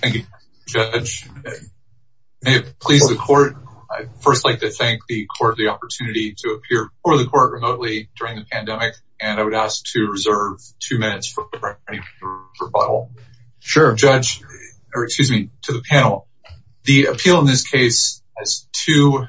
Thank you, Judge. May it please the Court, I'd first like to thank the Court for the opportunity to appear before the Court remotely during the pandemic, and I would ask to reserve two minutes for any rebuttal. Sure, Judge, or excuse me, to the panel. The appeal in this case has two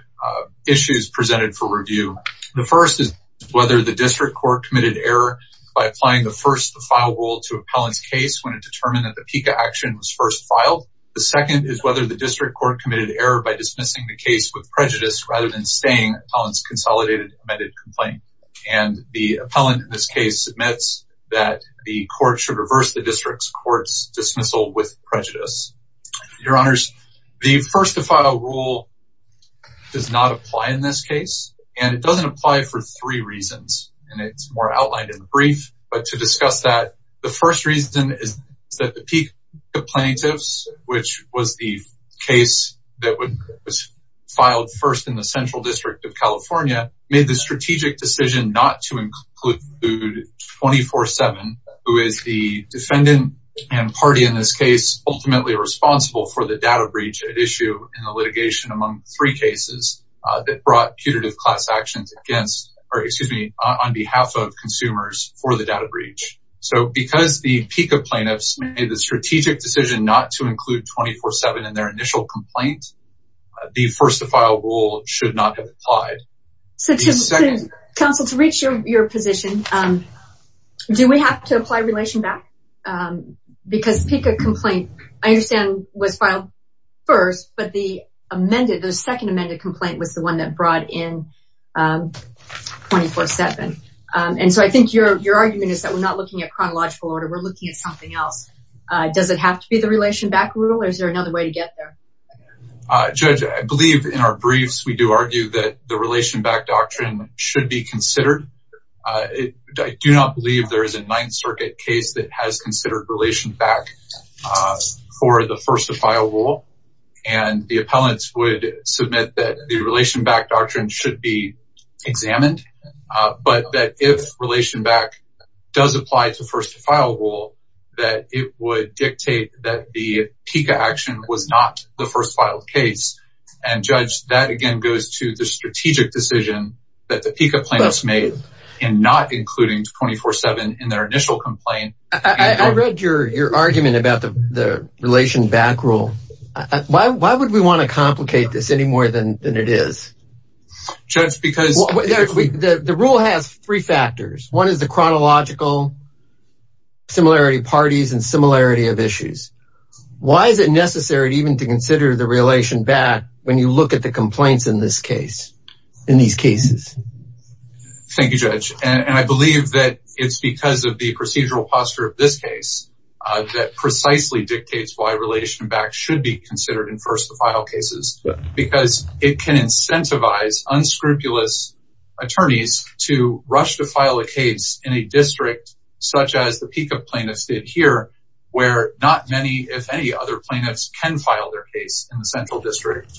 issues presented for review. The first is whether the District Court committed error by applying the first-to-file rule to appellant's case when it determined that the PICA action was first filed. The second is whether the District Court committed error by dismissing the case with prejudice rather than staying on its consolidated amended complaint. And the appellant in this case admits that the Court should reverse the District Court's dismissal with prejudice. Your Honors, the first-to-file rule does not apply in this case, and it doesn't apply for three reasons, and it's more outlined in the brief. But to discuss that, the first reason is that the PICA plaintiffs, which was the case that was filed first in the Central District of California, made the strategic decision not to include 24-7, who is the defendant and party in this case ultimately responsible for the data breach at issue in the litigation among three cases that brought putative class actions on behalf of consumers for the data breach. So because the PICA plaintiffs made the strategic decision not to include 24-7 in their initial complaint, the first-to-file rule should not have applied. Counsel, to reach your position, do we have to apply relation back? Because the PICA complaint, I understand, was filed first, but the amended, the second amended complaint was the one that brought in 24-7. And so I think your argument is that we're not looking at chronological order, we're looking at something else. Does it have to be the relation back rule, or is there another way to get there? Judge, I believe in our briefs we do argue that the relation back doctrine should be considered. I do not believe there is a Ninth Circuit case that has considered relation back for the first-to-file rule. And the appellants would submit that the relation back doctrine should be examined, but that if relation back does apply to first-to-file rule, that it would dictate that the PICA action was not the first filed case. And Judge, that again goes to the strategic decision that the PICA plaintiffs made in not including 24-7 in their argument about the relation back rule. Why would we want to complicate this any more than it is? Judge, because... The rule has three factors. One is the chronological similarity parties and similarity of issues. Why is it necessary even to consider the relation back when you look at the complaints in this case, in these cases? Thank you, Judge. And I believe that it's because of the procedural posture of this case that precisely dictates why relation back should be considered in first-to-file cases, because it can incentivize unscrupulous attorneys to rush to file a case in a district such as the PICA plaintiffs did here, where not many, if any, other plaintiffs can file their case in the central district.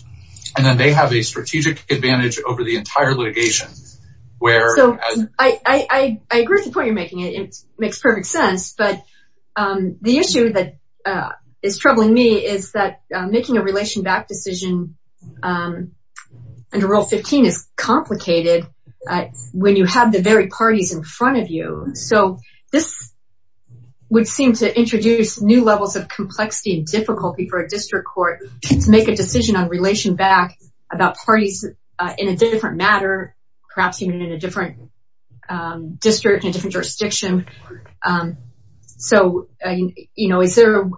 And then they have a strategic advantage over the entire litigation, where... So I agree with the point you're making. It makes perfect sense. But the issue that is troubling me is that making a relation back decision under Rule 15 is complicated when you have the very parties in front of you. So this would seem to introduce new levels of complexity and difficulty for a district court to make a decision on relation back about parties in a different matter, perhaps even in a different district, in a different jurisdiction. So, you know, is there...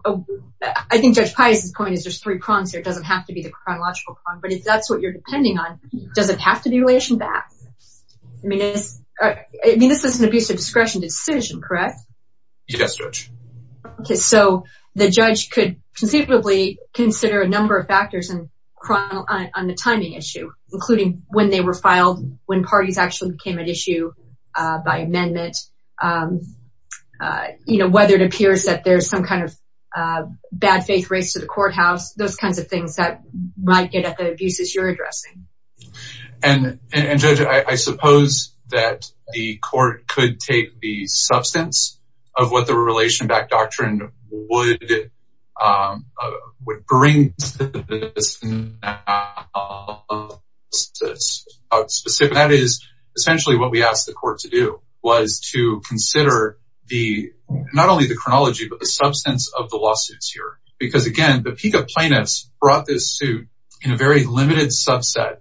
I think Judge Pius's point is there's three prongs here. It doesn't have to be the chronological prong, but if that's what you're depending on, does it have to be relation back? I mean, this is an abuse of discretion decision, correct? Yes, Judge. Okay, so the judge could conceivably consider a number of factors on the timing issue, including when they were filed, when parties actually came at issue by amendment, you know, whether it appears that there's some kind of bad faith race to the courthouse, those kinds of things that might get at the abuses you're addressing. And Judge, I suppose that the court could take the substance of what the relation back doctrine would bring. That is essentially what we asked the court to do, was to consider the, not only the chronology, but the substance of the lawsuits here. Because again, the peak of plaintiffs brought this suit in a very limited subset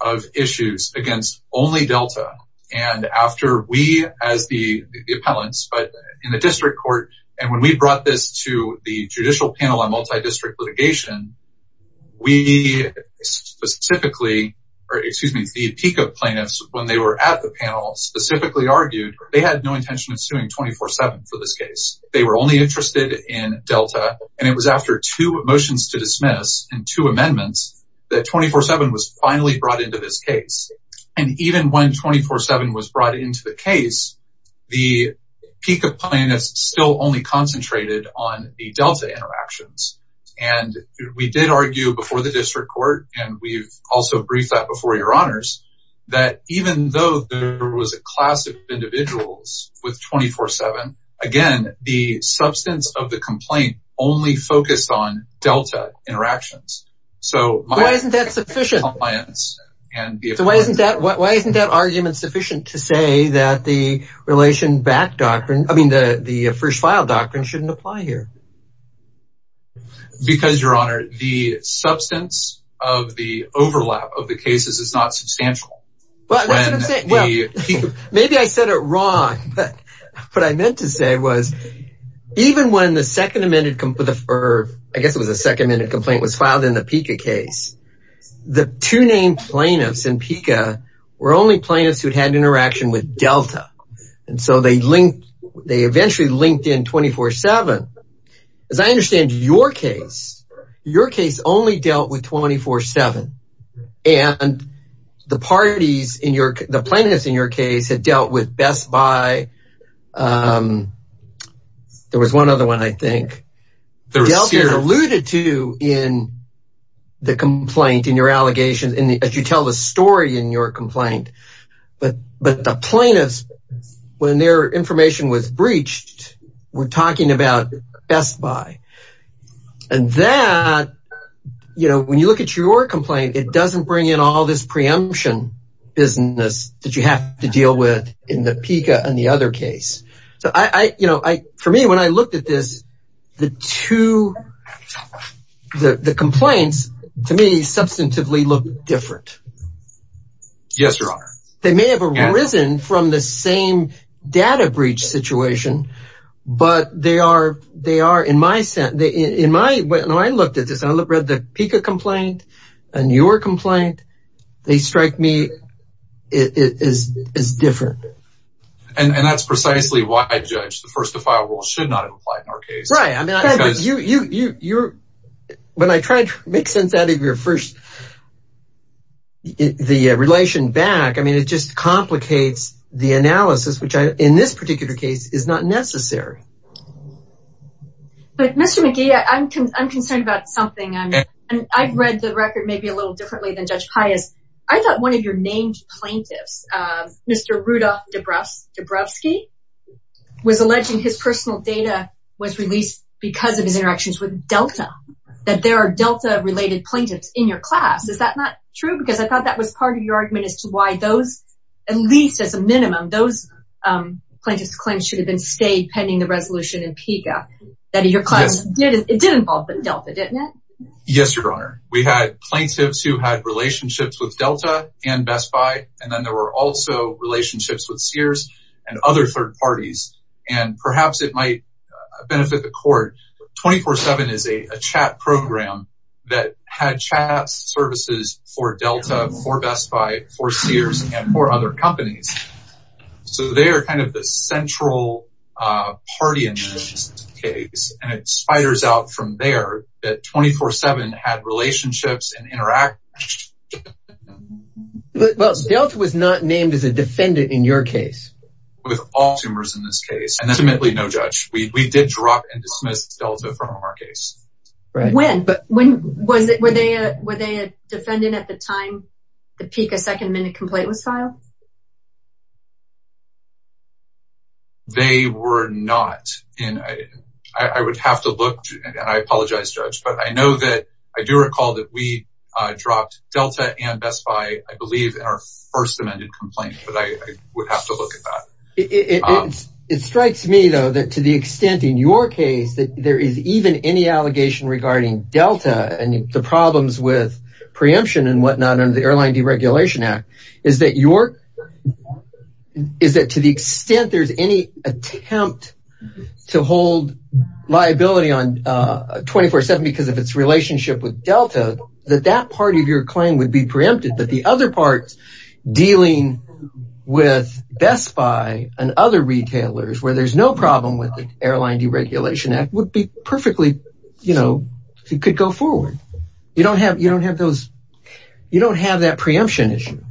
of issues against only Delta. And after we, as the appellants, but in the district court, and when we brought this to the judicial panel on multi-district litigation, we specifically, or excuse me, the peak of plaintiffs, when they were at the panel specifically argued, they had no intention of suing 24-7 for this case. They were only interested in Delta. And it was after two motions to dismiss and two amendments that 24-7 was finally brought into this case. And even when 24-7 was brought into the case, the peak of plaintiffs still only concentrated on the Delta interactions. And we did argue before the district court, and we've also briefed that before your honors, that even though there the substance of the complaint only focused on Delta interactions. So why isn't that argument sufficient to say that the relation back doctrine, I mean, the first file doctrine shouldn't apply here. Because your honor, the substance of the overlap of the cases is not substantial. Well, maybe I said it wrong, but what I meant to say was, even when the second amended, I guess it was a second amended complaint was filed in the PICA case, the two named plaintiffs in PICA were only plaintiffs who'd had interaction with Delta. And so they linked, they eventually linked in 24-7. As I understand your case, your case only dealt with 24-7. And the parties in your, the plaintiffs in your case had dealt with Best Buy. There was one other one, I think, Delta alluded to in the complaint, in your allegations in the, as you tell the story in your complaint. But the plaintiffs, when their information was breached, were talking about Best Buy. And that, you know, when you look at your complaint, it doesn't bring in all this preemption business that you have to deal with in the PICA and the other case. So I, you know, I, for me, when I looked at this, the two, the complaints to me substantively look different. Yes, Your Honor. They may have arisen from the same data breach situation, but they are, they are in my sense, in my, when I looked at this, I read the PICA complaint and your complaint, they strike me as different. And that's precisely why I judged the first to file rule should not have applied in our case. Right. I mean, you're, when I tried to make sense out of your first, the relation back, I mean, it just complicates the analysis, which in this particular case is not necessary. But Mr. McGee, I'm concerned about something. And I've read the record maybe a little differently than Judge Pius. I thought one of your named plaintiffs, Mr. Rudolf Dubrovsky, was alleging his personal data was released because of his interactions with Delta, that there are Delta related plaintiffs in your class. Is that not true? Because I thought that was part of your argument as to why those, at least as a minimum, those plaintiffs claims should have been stayed pending the resolution in PICA that your class did, it did involve Delta, didn't it? Yes, Your Honor. We had plaintiffs who had relationships with Delta and Best Buy, and then there were also relationships with Sears and other third parties. And perhaps it might benefit the court. 24-7 is a chat program that had chat services for Delta, for Best Buy, for Sears, and for other companies. So they are kind of the central party in this case. And it spiders out from there that 24-7 had relationships and interactions. Well, Delta was not named as a defendant in your case. With all sumers in this case, and ultimately no judge, we did drop and dismiss Delta from our case. When? Were they a defendant at the time the PICA second minute complaint was filed? They were not. I would have to look, and I apologize, Judge, but I know that I do recall that we dropped Delta and Best Buy, I believe, in our first amended complaint, but I would have to look at that. It strikes me, though, that to the extent in your case that there is even any allegation regarding Delta and the problems with preemption and whatnot under the Airline Deregulation Act, is that to the extent there's any attempt to hold liability on 24-7 because of its relationship with Delta, that that part of your claim would be preempted, but the other parts dealing with Best Buy and other retailers where there's no problem with the Airline Deregulation Act would be perfectly, you know, it could go forward. You don't have that preemption issue.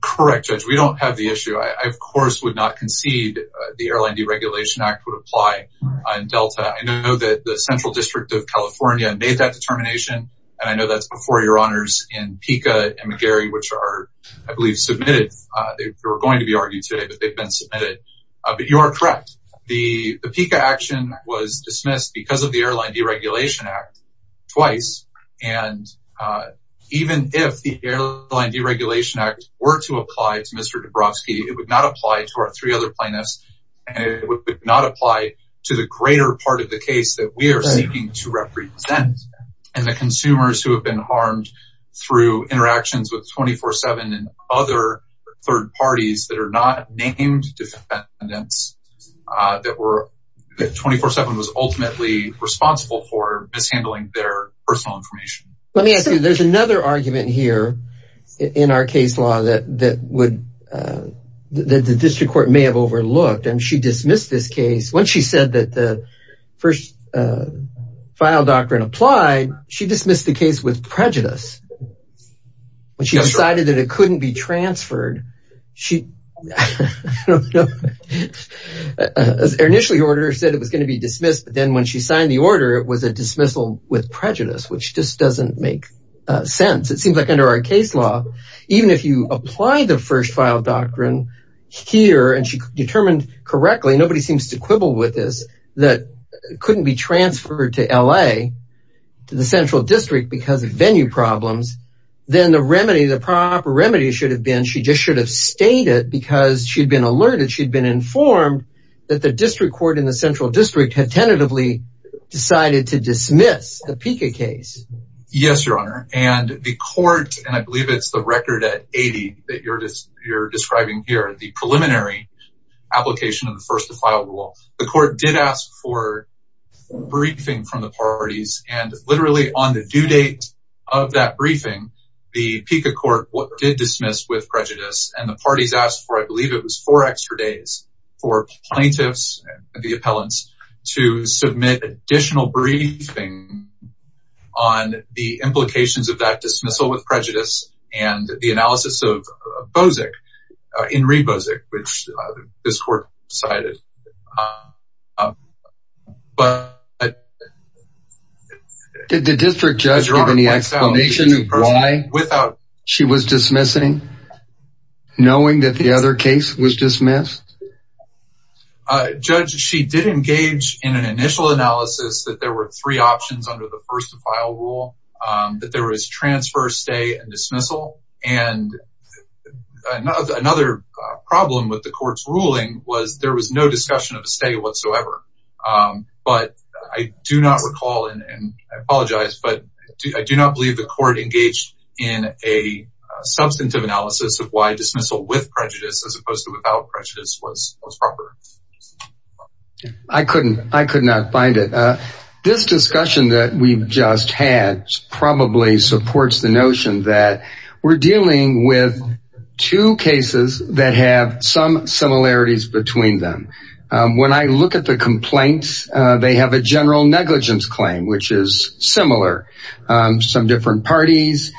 Correct, Judge. We don't have the issue. I, of course, would not concede the Airline Deregulation Act would apply on Delta. I know that the Central District of California made that determination, and I know that's before your honors in PICA and McGarry, which are, I believe, submitted. They were going to be argued today, but they've been submitted, but you are correct. The PICA action was dismissed because of the Airline Deregulation Act twice, and even if the Airline Deregulation Act were to apply to Mr. Dabrowski, it would not apply to our three other plaintiffs, and it would not apply to the greater part of the case that we are seeking to represent, and the consumers who have been harmed through interactions with 24-7 and other third parties that are not named defendants, that 24-7 was ultimately responsible for mishandling their personal information. Let me ask you, there's another argument here in our case law that the district court may have overlooked, and she dismissed this case. When she said that the first file doctrine applied, she dismissed the case with prejudice. When she decided that it couldn't be transferred, she initially ordered or said it was going to be dismissed, but then when she signed the order, it was a dismissal with prejudice, which just under our case law, even if you apply the first file doctrine here, and she determined correctly, nobody seems to quibble with this, that it couldn't be transferred to LA, to the central district because of venue problems, then the remedy, the proper remedy should have been, she just should have stated because she'd been alerted, she'd been informed that the district court in the central district had tentatively decided to dismiss the PICA case. Yes, your court, and I believe it's the record at 80 that you're describing here, the preliminary application of the first file rule, the court did ask for a briefing from the parties and literally on the due date of that briefing, the PICA court did dismiss with prejudice and the parties asked for, I believe it was four extra days, for plaintiffs and the appellants to submit additional briefing on the implications of that dismissal with prejudice and the analysis of Bozic, Inree Bozic, which this court decided, but did the district judge give any explanation of why without she was dismissing, knowing that the other case was dismissed? Judge, she did engage in an initial analysis that there were three options under the first file rule, that there was transfer, stay, and dismissal. And another problem with the court's ruling was there was no discussion of a stay whatsoever. But I do not recall, and I apologize, but I do not believe the court engaged in a substantive analysis of why dismissal with prejudice was proper. I couldn't, I could not find it. This discussion that we've just had probably supports the notion that we're dealing with two cases that have some similarities between them. When I look at the complaints, they have a general negligence claim, which is similar. Some different parties,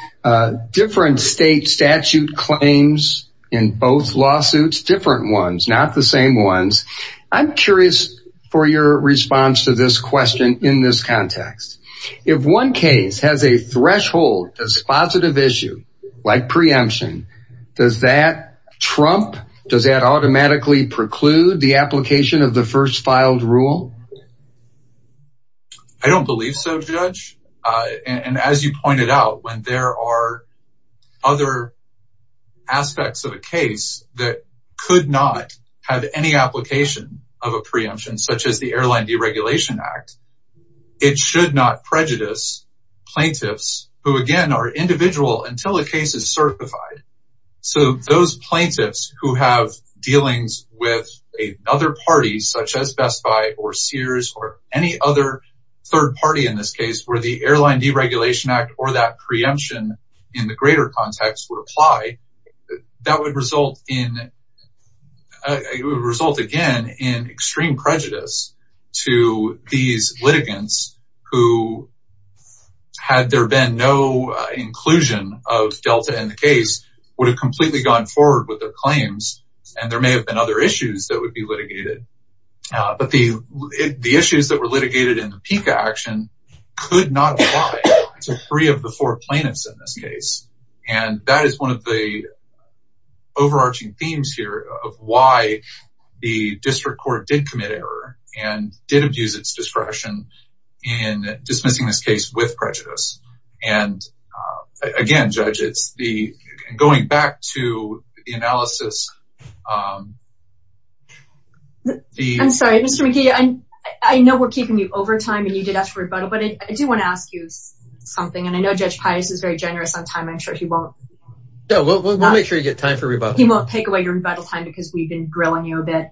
different state statute claims in both lawsuits, different ones, not the same ones. I'm curious for your response to this question in this context. If one case has a threshold as positive issue, like preemption, does that trump, does that automatically preclude the application of the first filed rule? I don't believe so, Judge. And as you pointed out, when there are other aspects of a case that could not have any application of a preemption, such as the Airline Deregulation Act, it should not prejudice plaintiffs who, again, are individual until the case is certified. So those plaintiffs who have dealings with another party, such as Best Buy or Sears or any other third party in this case, where the Airline Deregulation Act or that preemption in the greater context would apply, that would result again in extreme prejudice to these would have completely gone forward with their claims. And there may have been other issues that would be litigated. But the issues that were litigated in the PICA action could not apply to three of the four plaintiffs in this case. And that is one of the overarching themes here of why the district court did commit error and did abuse its discretion in dismissing this case with back to the analysis. I'm sorry, Mr. McKee, I know we're keeping you over time and you did ask for rebuttal, but I do want to ask you something. And I know Judge Pius is very generous on time. I'm sure he won't. No, we'll make sure you get time for rebuttal. He won't take away your rebuttal time because we've been grilling you a bit.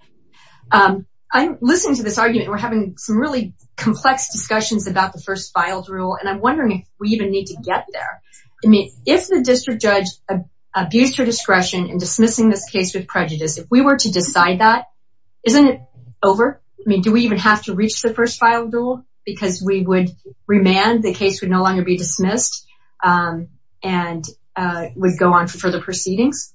I'm listening to this argument. We're having some really complex discussions about the first filed rule. And I'm wondering if we even get there. I mean, if the district judge abused her discretion in dismissing this case with prejudice, if we were to decide that, isn't it over? I mean, do we even have to reach the first file rule? Because we would remand, the case would no longer be dismissed and would go on for further proceedings?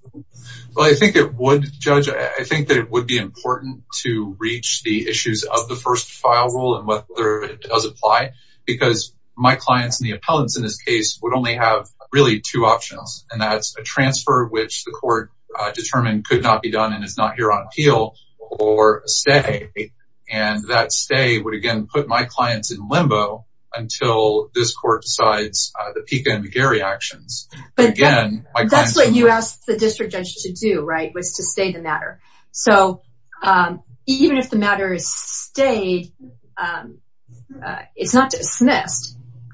Well, I think it would, Judge. I think that it would be important to reach the issues of the first file rule and whether it does apply. Because my clients and the appellants in this case would only have really two options. And that's a transfer, which the court determined could not be done and is not here on appeal, or a stay. And that stay would again put my clients in limbo until this court decides the Pika and McGarry actions. That's what you asked the district judge to do, right? Was to stay the matter. So even if the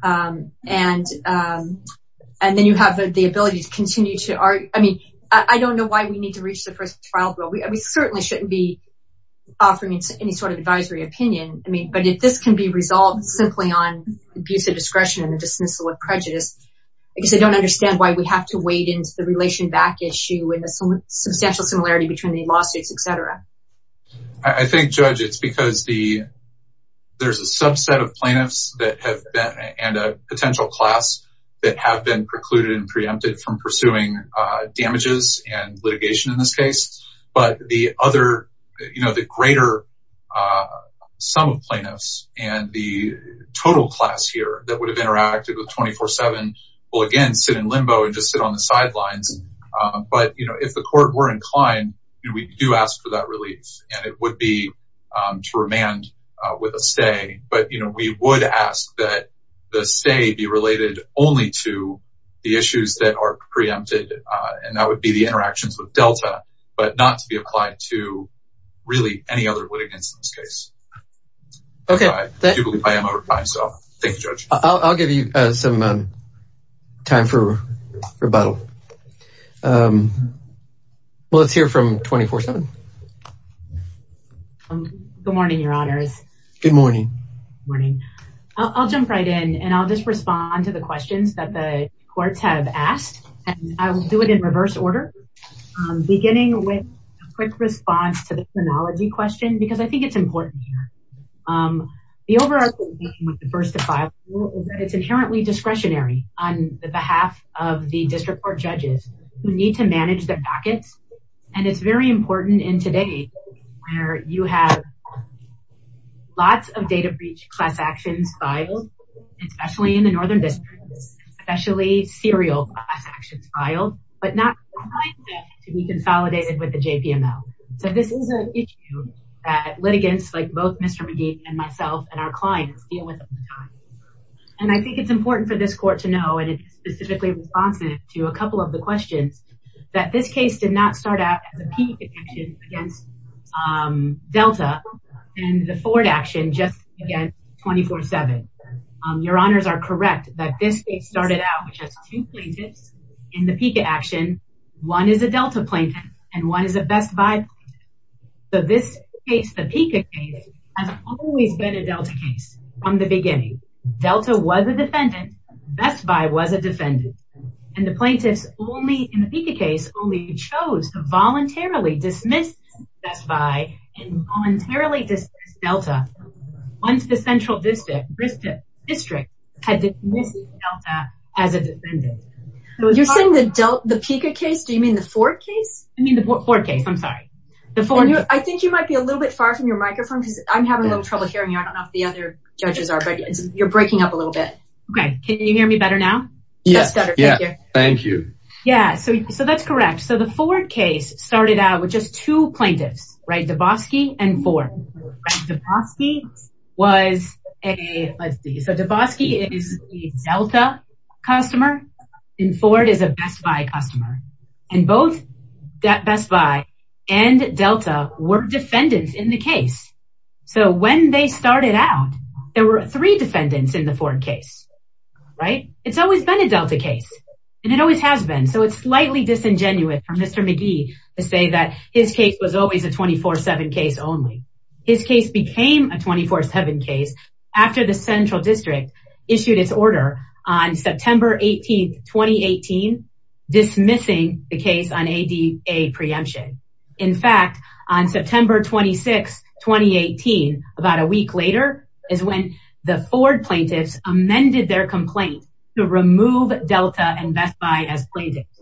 and and then you have the ability to continue to argue, I mean, I don't know why we need to reach the first trial rule. We certainly shouldn't be offering any sort of advisory opinion. I mean, but if this can be resolved simply on abuse of discretion and dismissal of prejudice, I guess I don't understand why we have to wade into the relation back issue and the substantial similarity between the lawsuits, etc. I think, Judge, it's because there's a potential class that have been precluded and preempted from pursuing damages and litigation in this case. But the other, you know, the greater sum of plaintiffs and the total class here that would have interacted with 24-7 will again sit in limbo and just sit on the sidelines. But you know, if the court were inclined, we do ask for that relief, and it would be to remand with a stay. But, you know, we would ask that the stay be related only to the issues that are preempted, and that would be the interactions with Delta, but not to be applied to really any other litigants in this case. Okay. I'll give you some time for rebuttal. Let's hear from 24-7. Good morning, Your Honors. Good morning. Good morning. I'll jump right in, and I'll just respond to the questions that the courts have asked, and I will do it in reverse order, beginning with a quick response to the chronology question, because I think it's important here. The overarching theme of the first defile rule is that it's inherently discretionary on the behalf of the district court judges who need to manage their packets, and it's very important in today where you have lots of data breach class actions filed, especially in the northern districts, especially serial class actions filed, but not to be consolidated with the JPML. So this is an issue that litigants like both Mr. McGee and myself and our clients deal with. And I think it's important for this court to know, and it's specifically responsive to a couple of the questions, that this case did not start out as a PICA action against Delta and the Ford action just against 24-7. Your Honors are correct that this case started out with just two plaintiffs in the PICA action. One is a Delta plaintiff, and one is a Best Buy plaintiff. So this case, the PICA case, has always been a Delta case from the beginning. Delta was a defendant, Best Buy was a defendant, and the plaintiffs only, in the PICA case, only chose to voluntarily dismiss Best Buy and voluntarily dismiss Delta once the central district had dismissed Delta as a defendant. You're saying the PICA case? Do you mean the Ford case? I mean the Ford case, I'm sorry. I think you might be a little bit far from your microphone because I'm having a little trouble hearing you. I don't know if the other judges are, but you're breaking up a little bit. Okay, can you hear me better now? Yes, thank you. Yeah, so that's correct. So the Ford case started out with just two plaintiffs, right, Dabowski and Ford. Dabowski was a, let's see, and Delta were defendants in the case. So when they started out, there were three defendants in the Ford case, right? It's always been a Delta case, and it always has been. So it's slightly disingenuous for Mr. McGee to say that his case was always a 24-7 case only. His case became a 24-7 case after the central district issued its order on September 18, 2018, dismissing the case on ADA preemption. In fact, on September 26, 2018, about a week later, is when the Ford plaintiffs amended their complaint to remove Delta and Best Buy as plaintiffs.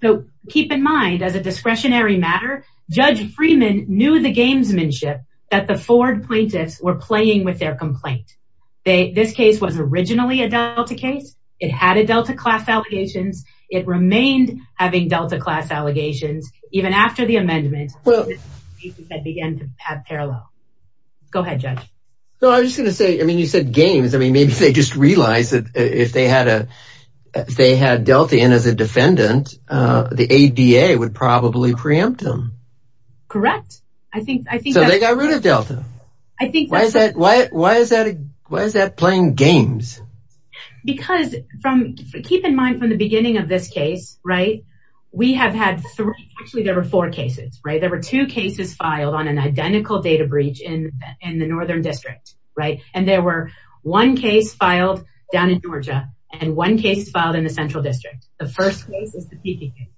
So keep in mind, as a discretionary matter, Judge Freeman knew the gamesmanship that the Ford plaintiffs were playing with their complaint. This case was originally a Delta case. It had a Delta class allegations. It remained having Delta class allegations even after the amendment that began to have parallel. Go ahead, Judge. No, I was just going to say, I mean, you said games. I mean, maybe they just realized that if they had Delta in as a defendant, the ADA would probably preempt them. Correct. So they got rid of Delta. Why is that playing games? Because from, keep in mind, from the beginning of this case, right, we have had three, actually, there were four cases, right? There were two cases filed on an identical data breach in in the northern district, right? And there were one case filed down in Georgia and one case filed in the central district. The first case is the Peking case.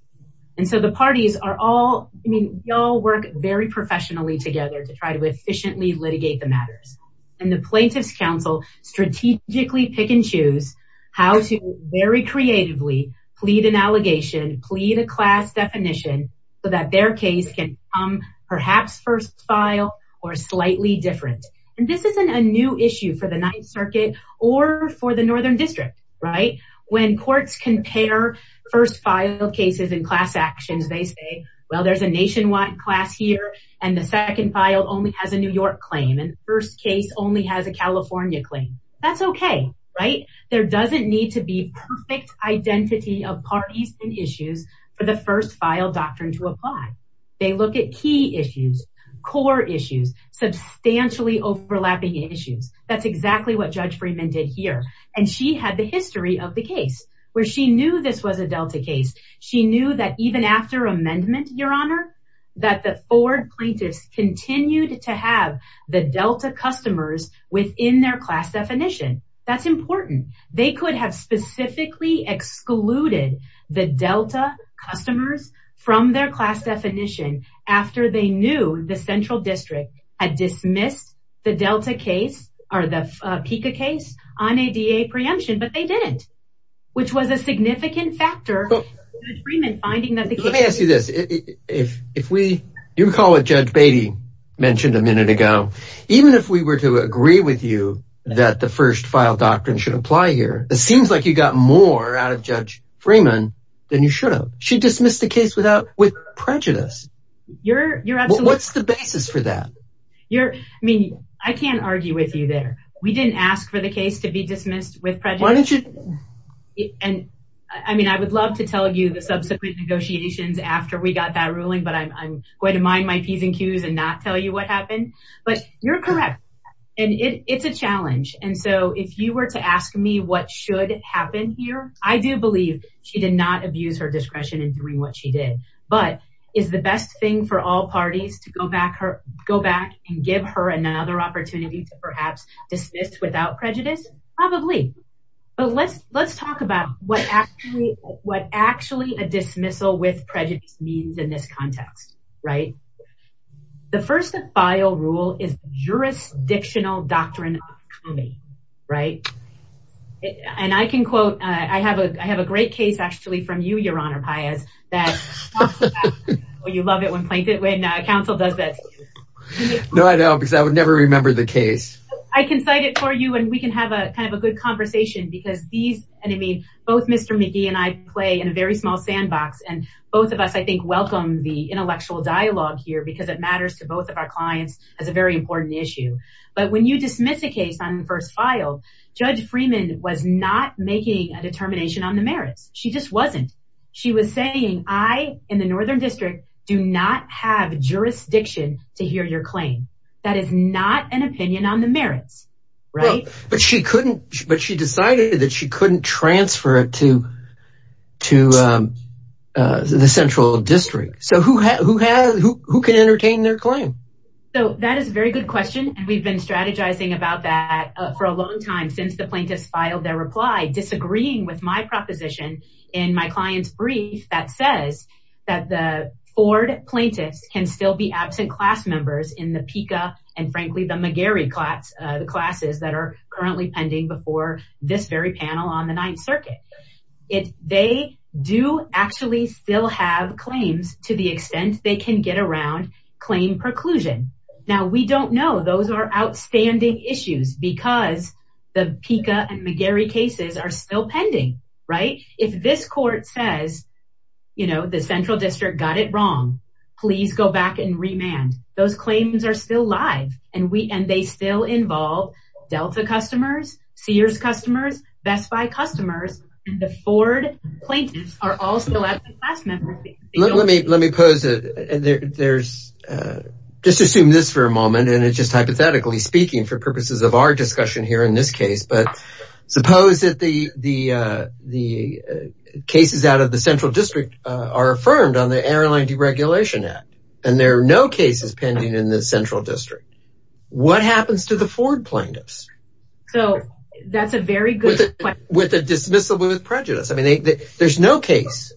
And so the parties are all, I mean, y'all work very professionally together to try to efficiently litigate the matters. And the plaintiff's counsel strategically pick and choose how to very creatively plead an allegation, plead a class definition so that their case can come perhaps first file or slightly different. And this isn't a new issue for the ninth circuit or for the northern district, right? When courts compare first filed cases and class actions, they say, well, there's a nationwide class here. And the second file only has a New York claim. And the first case only has a California claim. That's okay, right? There doesn't need to be perfect identity of parties and issues for the first file doctrine to apply. They look at key issues, core issues, substantially overlapping issues. That's exactly what Judge Freeman did here. And she had the history of the case where she knew this was a Delta case. She knew that even after amendment, Your Honor, that the Ford plaintiffs continued to have the Delta customers within their class definition. That's important. They could have specifically excluded the Delta customers from their class definition after they knew the central district had dismissed the Delta case or the PICA case on ADA preemption, but they didn't, which was a significant factor in agreement finding that let me ask you this. If we, you recall what Judge Beatty mentioned a minute ago, even if we were to agree with you that the first file doctrine should apply here, it seems like you got more out of Judge Freeman than you should have. She dismissed the case without prejudice. What's the basis for that? I mean, I can't argue with you there. We didn't ask for the case to be got that ruling, but I'm going to mind my P's and Q's and not tell you what happened, but you're correct. And it's a challenge. And so if you were to ask me what should happen here, I do believe she did not abuse her discretion in doing what she did, but is the best thing for all parties to go back and give her another opportunity to perhaps dismiss without prejudice? Probably. But let's talk about what actually a dismissal with prejudice means in this context, right? The first file rule is jurisdictional doctrine, right? And I can quote, I have a great case actually from you, Your Honor, Pius, that you love it when counsel does that. No, I don't because I would never remember the case. I can cite it for you and we can have a kind of a good conversation because these, and I mean, both Mr. McGee and I play in a very small sandbox and both of us, I think, welcome the intellectual dialogue here because it matters to both of our clients as a very important issue. But when you dismiss a case on the first file, Judge Freeman was not making a determination on the merits. She just wasn't. She was saying, I in the Northern District do not have jurisdiction to hear your claim. That is not an opinion on the merits, right? But she couldn't, but she decided that she couldn't transfer it to the Central District. So who can entertain their claim? So that is a very good question. And we've been strategizing about that for a long time, since the plaintiffs filed their reply, disagreeing with my proposition in my client's that says that the Ford plaintiffs can still be absent class members in the PICA and frankly, the McGarry class, the classes that are currently pending before this very panel on the Ninth Circuit. They do actually still have claims to the extent they can get around claim preclusion. Now we don't know those are outstanding issues because the PICA and McGarry cases are still live. And they still involve Delta customers, Sears customers, Best Buy customers, and the Ford plaintiffs are all still absent class members. Let me just assume this for a moment. And it's just hypothetically speaking for purposes of our discussion here in this case. But the cases out of the Central District are affirmed on the Airline Deregulation Act, and there are no cases pending in the Central District. What happens to the Ford plaintiffs? So that's a very good question. With a dismissal with prejudice. I mean, there's no case.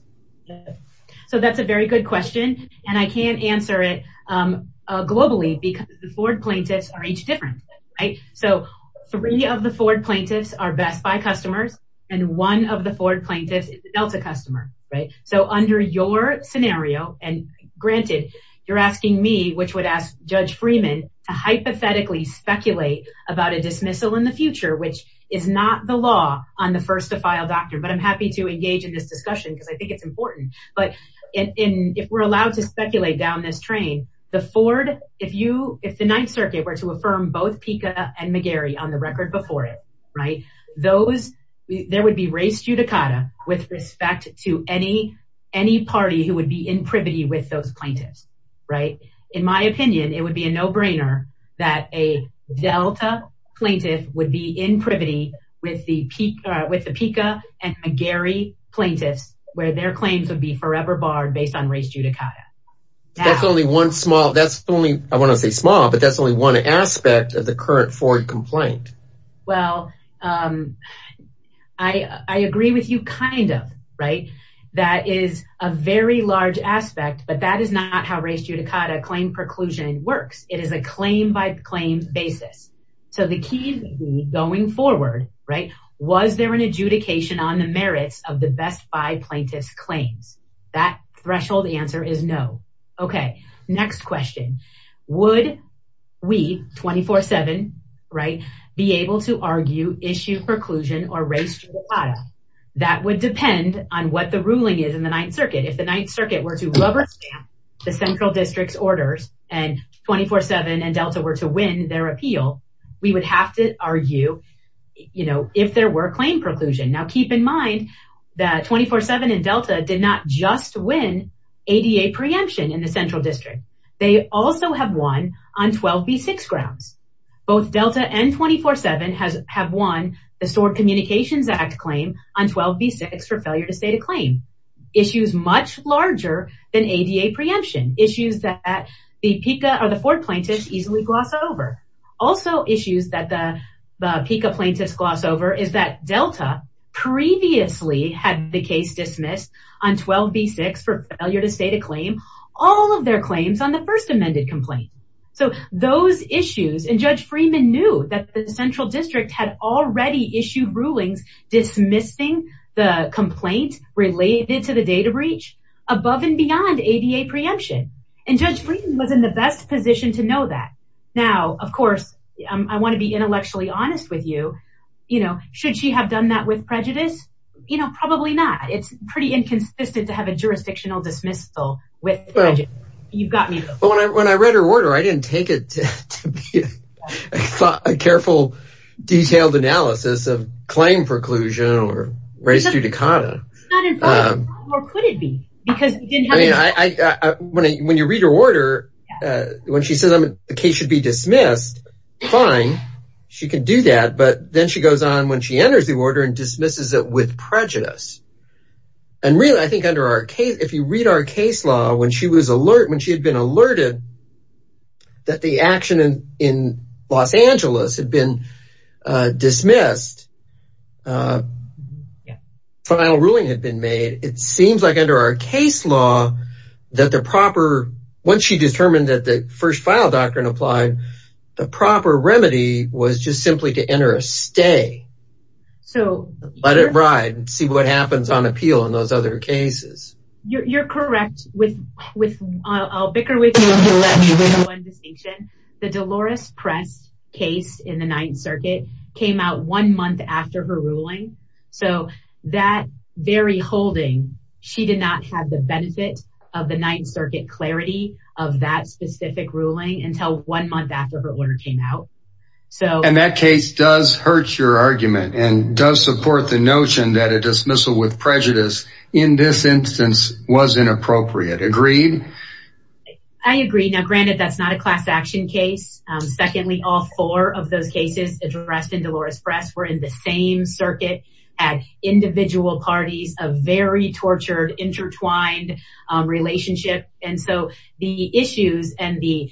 So that's a very good question. And I can't answer it globally because the Ford plaintiffs are each different, right? So three of the Ford plaintiffs are Best Buy customers. And one of the Ford plaintiffs is a Delta customer, right? So under your scenario, and granted, you're asking me, which would ask Judge Freeman to hypothetically speculate about a dismissal in the future, which is not the law on the first to file doctrine. But I'm happy to engage in this discussion because I think it's important. But if we're allowed to speculate down this train, the Ford, if the Ninth Circuit were to affirm both PICA and McGarry on the record before it, those, there would be race judicata with respect to any party who would be in privity with those plaintiffs, right? In my opinion, it would be a no brainer that a Delta plaintiff would be in privity with the PICA and McGarry plaintiffs, where their claims would be forever barred based on race judicata. That's only one small, that's only, I want to say small, but that's only one aspect of the current Ford complaint. Well, I agree with you kind of, right? That is a very large aspect, but that is not how race judicata claim preclusion works. It is a claim by claim basis. So the key going forward, right? Was there an adjudication on the merits of the Best Buy 24-7, right? Be able to argue, issue preclusion or race judicata. That would depend on what the ruling is in the Ninth Circuit. If the Ninth Circuit were to rubber stamp the central district's orders and 24-7 and Delta were to win their appeal, we would have to argue, you know, if there were claim preclusion. Now keep in mind that 24-7 and Delta did not just win ADA preemption in the Both Delta and 24-7 have won the Stored Communications Act claim on 12b6 for failure to state a claim. Issues much larger than ADA preemption. Issues that the PICA or the Ford plaintiffs easily gloss over. Also issues that the PICA plaintiffs gloss over is that Delta previously had the case dismissed on 12b6 for failure to state a claim. All of their claims on the first amended complaint. So those issues and Judge Freeman knew that the central district had already issued rulings dismissing the complaint related to the data breach above and beyond ADA preemption. And Judge Freeman was in the best position to know that. Now, of course, I want to be intellectually honest with you, you know, should she have done that with prejudice? You know, probably not. It's pretty inconsistent to have a jurisdictional dismissal with prejudice. You've got me. When I read her order, I didn't take it to be a careful, detailed analysis of claim preclusion or race judicata. Or could it be? Because when you read her order, when she says the case should be dismissed, fine, she can do that. But then she goes on when she enters the order and dismisses it with prejudice. And really, I think under our case, if you read our case law, when she was alert, when she had been alerted that the action in Los Angeles had been dismissed, final ruling had been made, it seems like under our case law, that the proper, once she determined that the first file doctrine applied, the proper remedy was just simply to enter a stay. So let it other cases. You're correct with with I'll bicker with you. The Dolores press case in the Ninth Circuit came out one month after her ruling. So that very holding, she did not have the benefit of the Ninth Circuit clarity of that specific ruling until one month after her order came out. So and that case does hurt your argument and does support the prejudice in this instance was inappropriate. Agreed? I agree. Now granted, that's not a class action case. Secondly, all four of those cases addressed in Dolores press were in the same circuit at individual parties, a very tortured intertwined relationship. And so the issues and the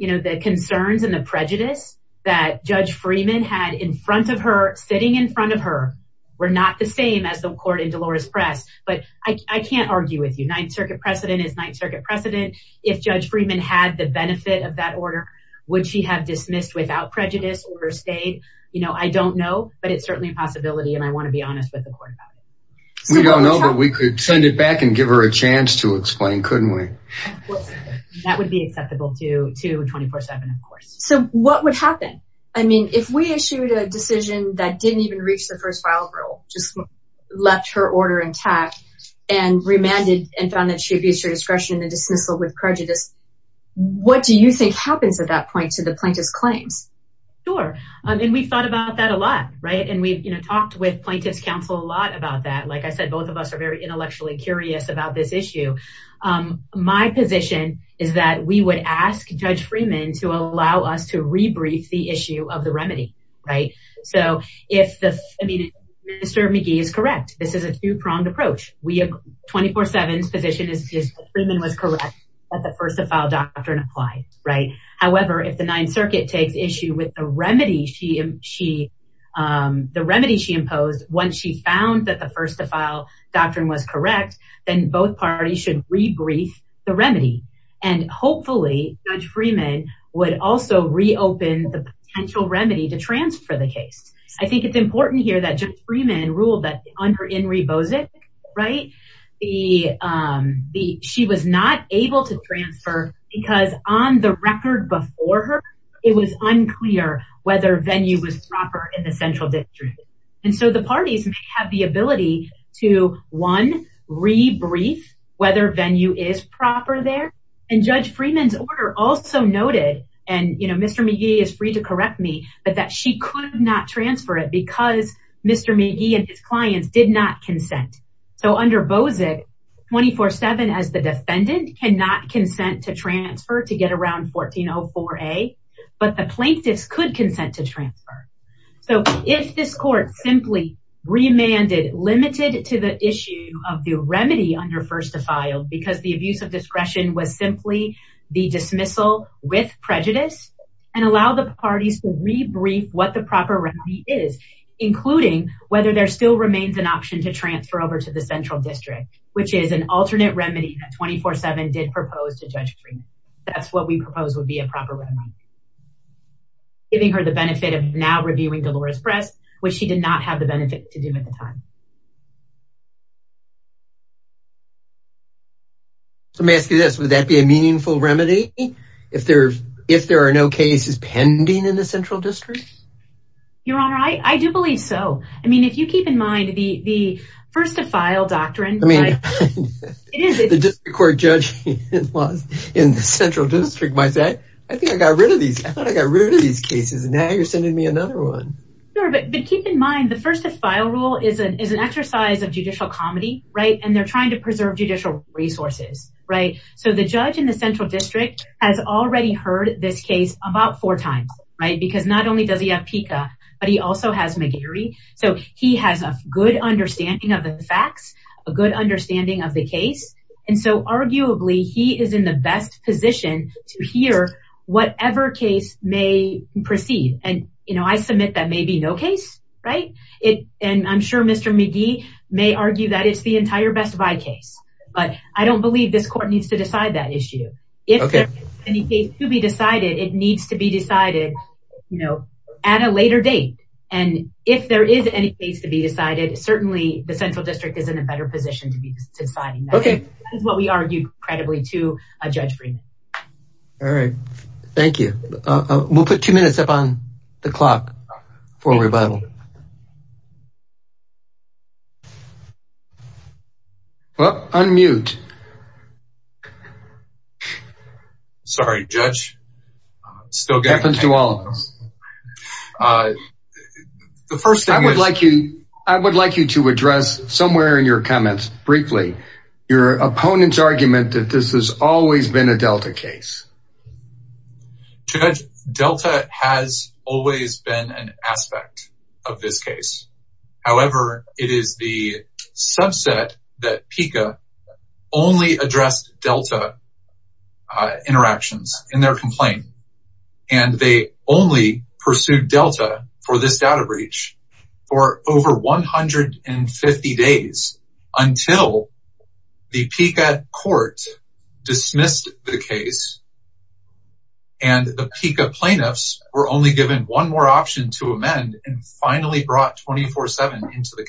you know, the concerns and the prejudice that Judge Freeman had in front of her sitting in front of her were not the same as the court in Dolores press. But I can't argue with you. Ninth Circuit precedent is Ninth Circuit precedent. If Judge Freeman had the benefit of that order, would she have dismissed without prejudice or stayed? You know, I don't know. But it's certainly a possibility. And I want to be honest with the court. We don't know that we could send it back and give her a chance to explain couldn't we? That would be acceptable to to 24 seven, of course. So what would happen? I mean, if we issued a decision that didn't even reach the first file rule, just left her order intact, and remanded and found that she abused her discretion and dismissal with prejudice. What do you think happens at that point to the plaintiff's claims? Sure. And we've thought about that a lot, right. And we've, you know, talked with plaintiff's counsel a lot about that. Like I said, both of us are very intellectually curious about this issue. My position is that we would ask Judge Freeman to allow us to rebrief the issue of the remedy, right? So if the, I mean, Mr. McGee is correct, this is a two pronged approach, we have 24 sevens position is Freeman was correct, that the first to file doctrine applied, right? However, if the Ninth Circuit takes issue with the remedy, the remedy she imposed, once she found that the first to file doctrine was correct, then both parties should rebrief the remedy. And hopefully, Judge Freeman would also reopen the potential remedy to transfer the case. I think it's important here that Judge Freeman ruled that under Inri Bozic, right? She was not able to transfer because on the record before her, it was unclear whether venue was proper in the central district. And the parties have the ability to one, rebrief whether venue is proper there. And Judge Freeman's order also noted, and you know, Mr. McGee is free to correct me, but that she could not transfer it because Mr. McGee and his clients did not consent. So under Bozic, 24 seven as the defendant cannot consent to transfer to get around 1404A, but the plaintiffs could consent to transfer. So if this simply remanded limited to the issue of the remedy under first to file, because the abuse of discretion was simply the dismissal with prejudice and allow the parties to rebrief what the proper remedy is, including whether there still remains an option to transfer over to the central district, which is an alternate remedy that 24 seven did propose to Judge Freeman. That's what we propose would be a proper remedy, giving her the benefit of now reviewing Dolores Press, which she did not have the benefit to do at the time. So may I ask you this, would that be a meaningful remedy? If there are no cases pending in the central district? Your Honor, I do believe so. I mean, if you keep in mind the first to file rule is an exercise of judicial comedy, right? And they're trying to preserve judicial resources, right? So the judge in the central district has already heard this case about four times, right? Because not only does he have PICA, but he also has McGeary. So he has a good understanding of the facts, a good understanding of the case. And so arguably he is in the best position to hear whatever case may proceed. And I submit that may be no case, right? And I'm sure Mr. McGee may argue that it's the entire Best Buy case, but I don't believe this court needs to decide that issue. If there is any case to be decided, it needs to be decided at a later date. And if there is any case to be decided, certainly the central district is in a better position to be deciding that. That is what we argued credibly to Judge Friedman. All right. Thank you. We'll put two minutes up on the clock for a revival. Unmute. Sorry, Judge. It happens to all of us. I would like you to address somewhere in your comments, briefly, your opponent's argument that this has always been a Delta case. Judge, Delta has always been an aspect of this case. However, it is the subset that PICA only addressed Delta interactions in their complaint. And they only pursued Delta for this data breach for over 150 days until the PICA court dismissed the case. And the PICA plaintiffs were only given one more option to amend and finally brought 24-7 into the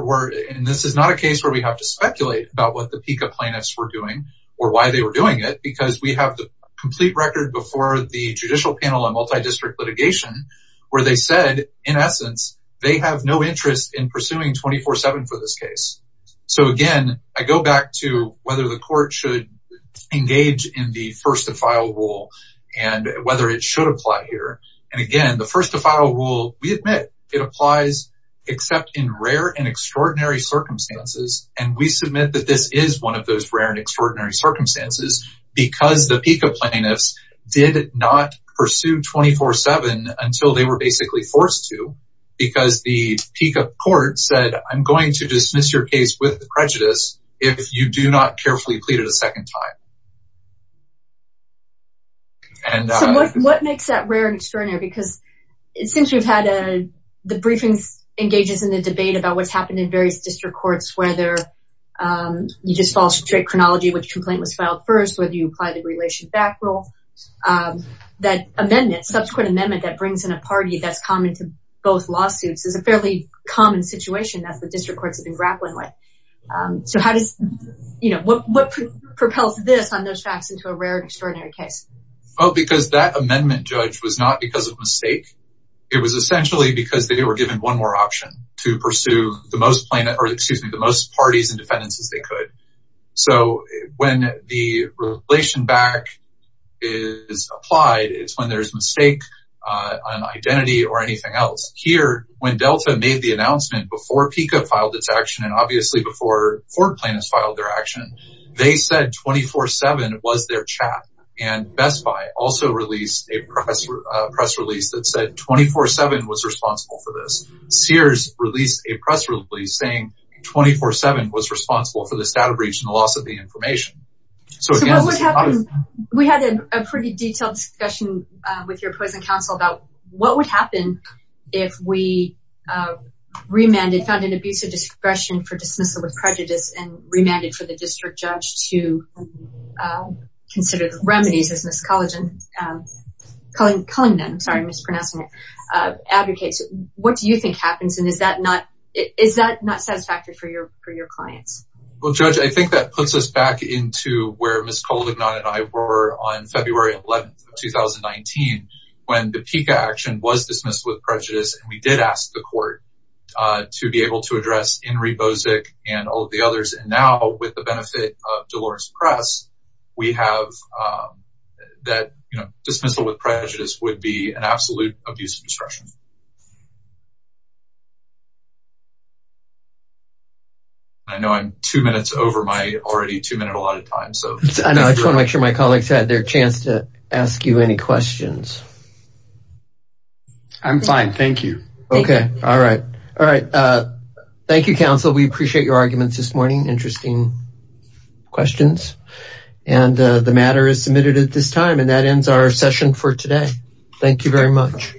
court. And this is not a case where we have to speculate about what the PICA plaintiffs were doing or why they were doing it, because we have the complete record before the judicial panel on multi-district litigation where they said, in essence, they have no interest in pursuing 24-7 for this case. So again, I go back to whether the court should engage in the first to file rule and whether it should apply here. And again, the first to file rule, we admit it applies, except in rare and extraordinary circumstances. And we submit that this is one of those rare and extraordinary circumstances because the PICA plaintiffs did not pursue 24-7 until they were basically forced to because the PICA court said, I'm going to dismiss your case with prejudice if you do not carefully plead it a second time. So what makes that rare and extraordinary? Because it seems we've had the briefings engages in the debate about what's happened in various district courts, whether you just follow straight chronology, which complaint was filed first, whether you apply the relation back rule, that amendment, subsequent amendment that brings in a party that's common to both lawsuits is a fairly common situation that the district courts have been grappling with. So what propels this on those facts into a rare and extraordinary case? Well, because that amendment, Judge, was not because of mistake. It was essentially because they were given one more option to pursue the most parties and defendants as they could. So when the relation back is applied, it's when there's mistake on identity or anything else. Here, when Delta made the announcement before PICA filed its action, and obviously before four plaintiffs filed their action, they said 24-7 was their chat. And Best Buy also released a press release that said 24-7 was responsible for this. Sears released a press release saying 24-7 was responsible for this data breach and the loss of the information. We had a pretty detailed discussion with your opposing counsel about what would happen if we remanded, found an abuse of discretion for dismissal of prejudice and remanded for the district judge to consider the remedies as Ms. Cullingham advocates. What do you think happens? And is that not satisfactory for your clients? Well, Judge, I think that puts us back into where Ms. Cullingham and I were on February 11th, 2019, when the PICA action was dismissed with prejudice. And we did ask the court to be able to address Enri Bozic and all of the others. And now with the benefit of Delores Press, we have that dismissal with prejudice would be an absolute abuse of discretion. I know I'm two minutes over my already two minute allotted time. I just want to make sure my colleagues had their chance to ask you any questions. I'm fine. Thank you. Okay. All right. All right. Thank you, counsel. We appreciate your arguments this morning. Interesting questions. And the matter is submitted at this time. And that ends our session for today. Thank you very much.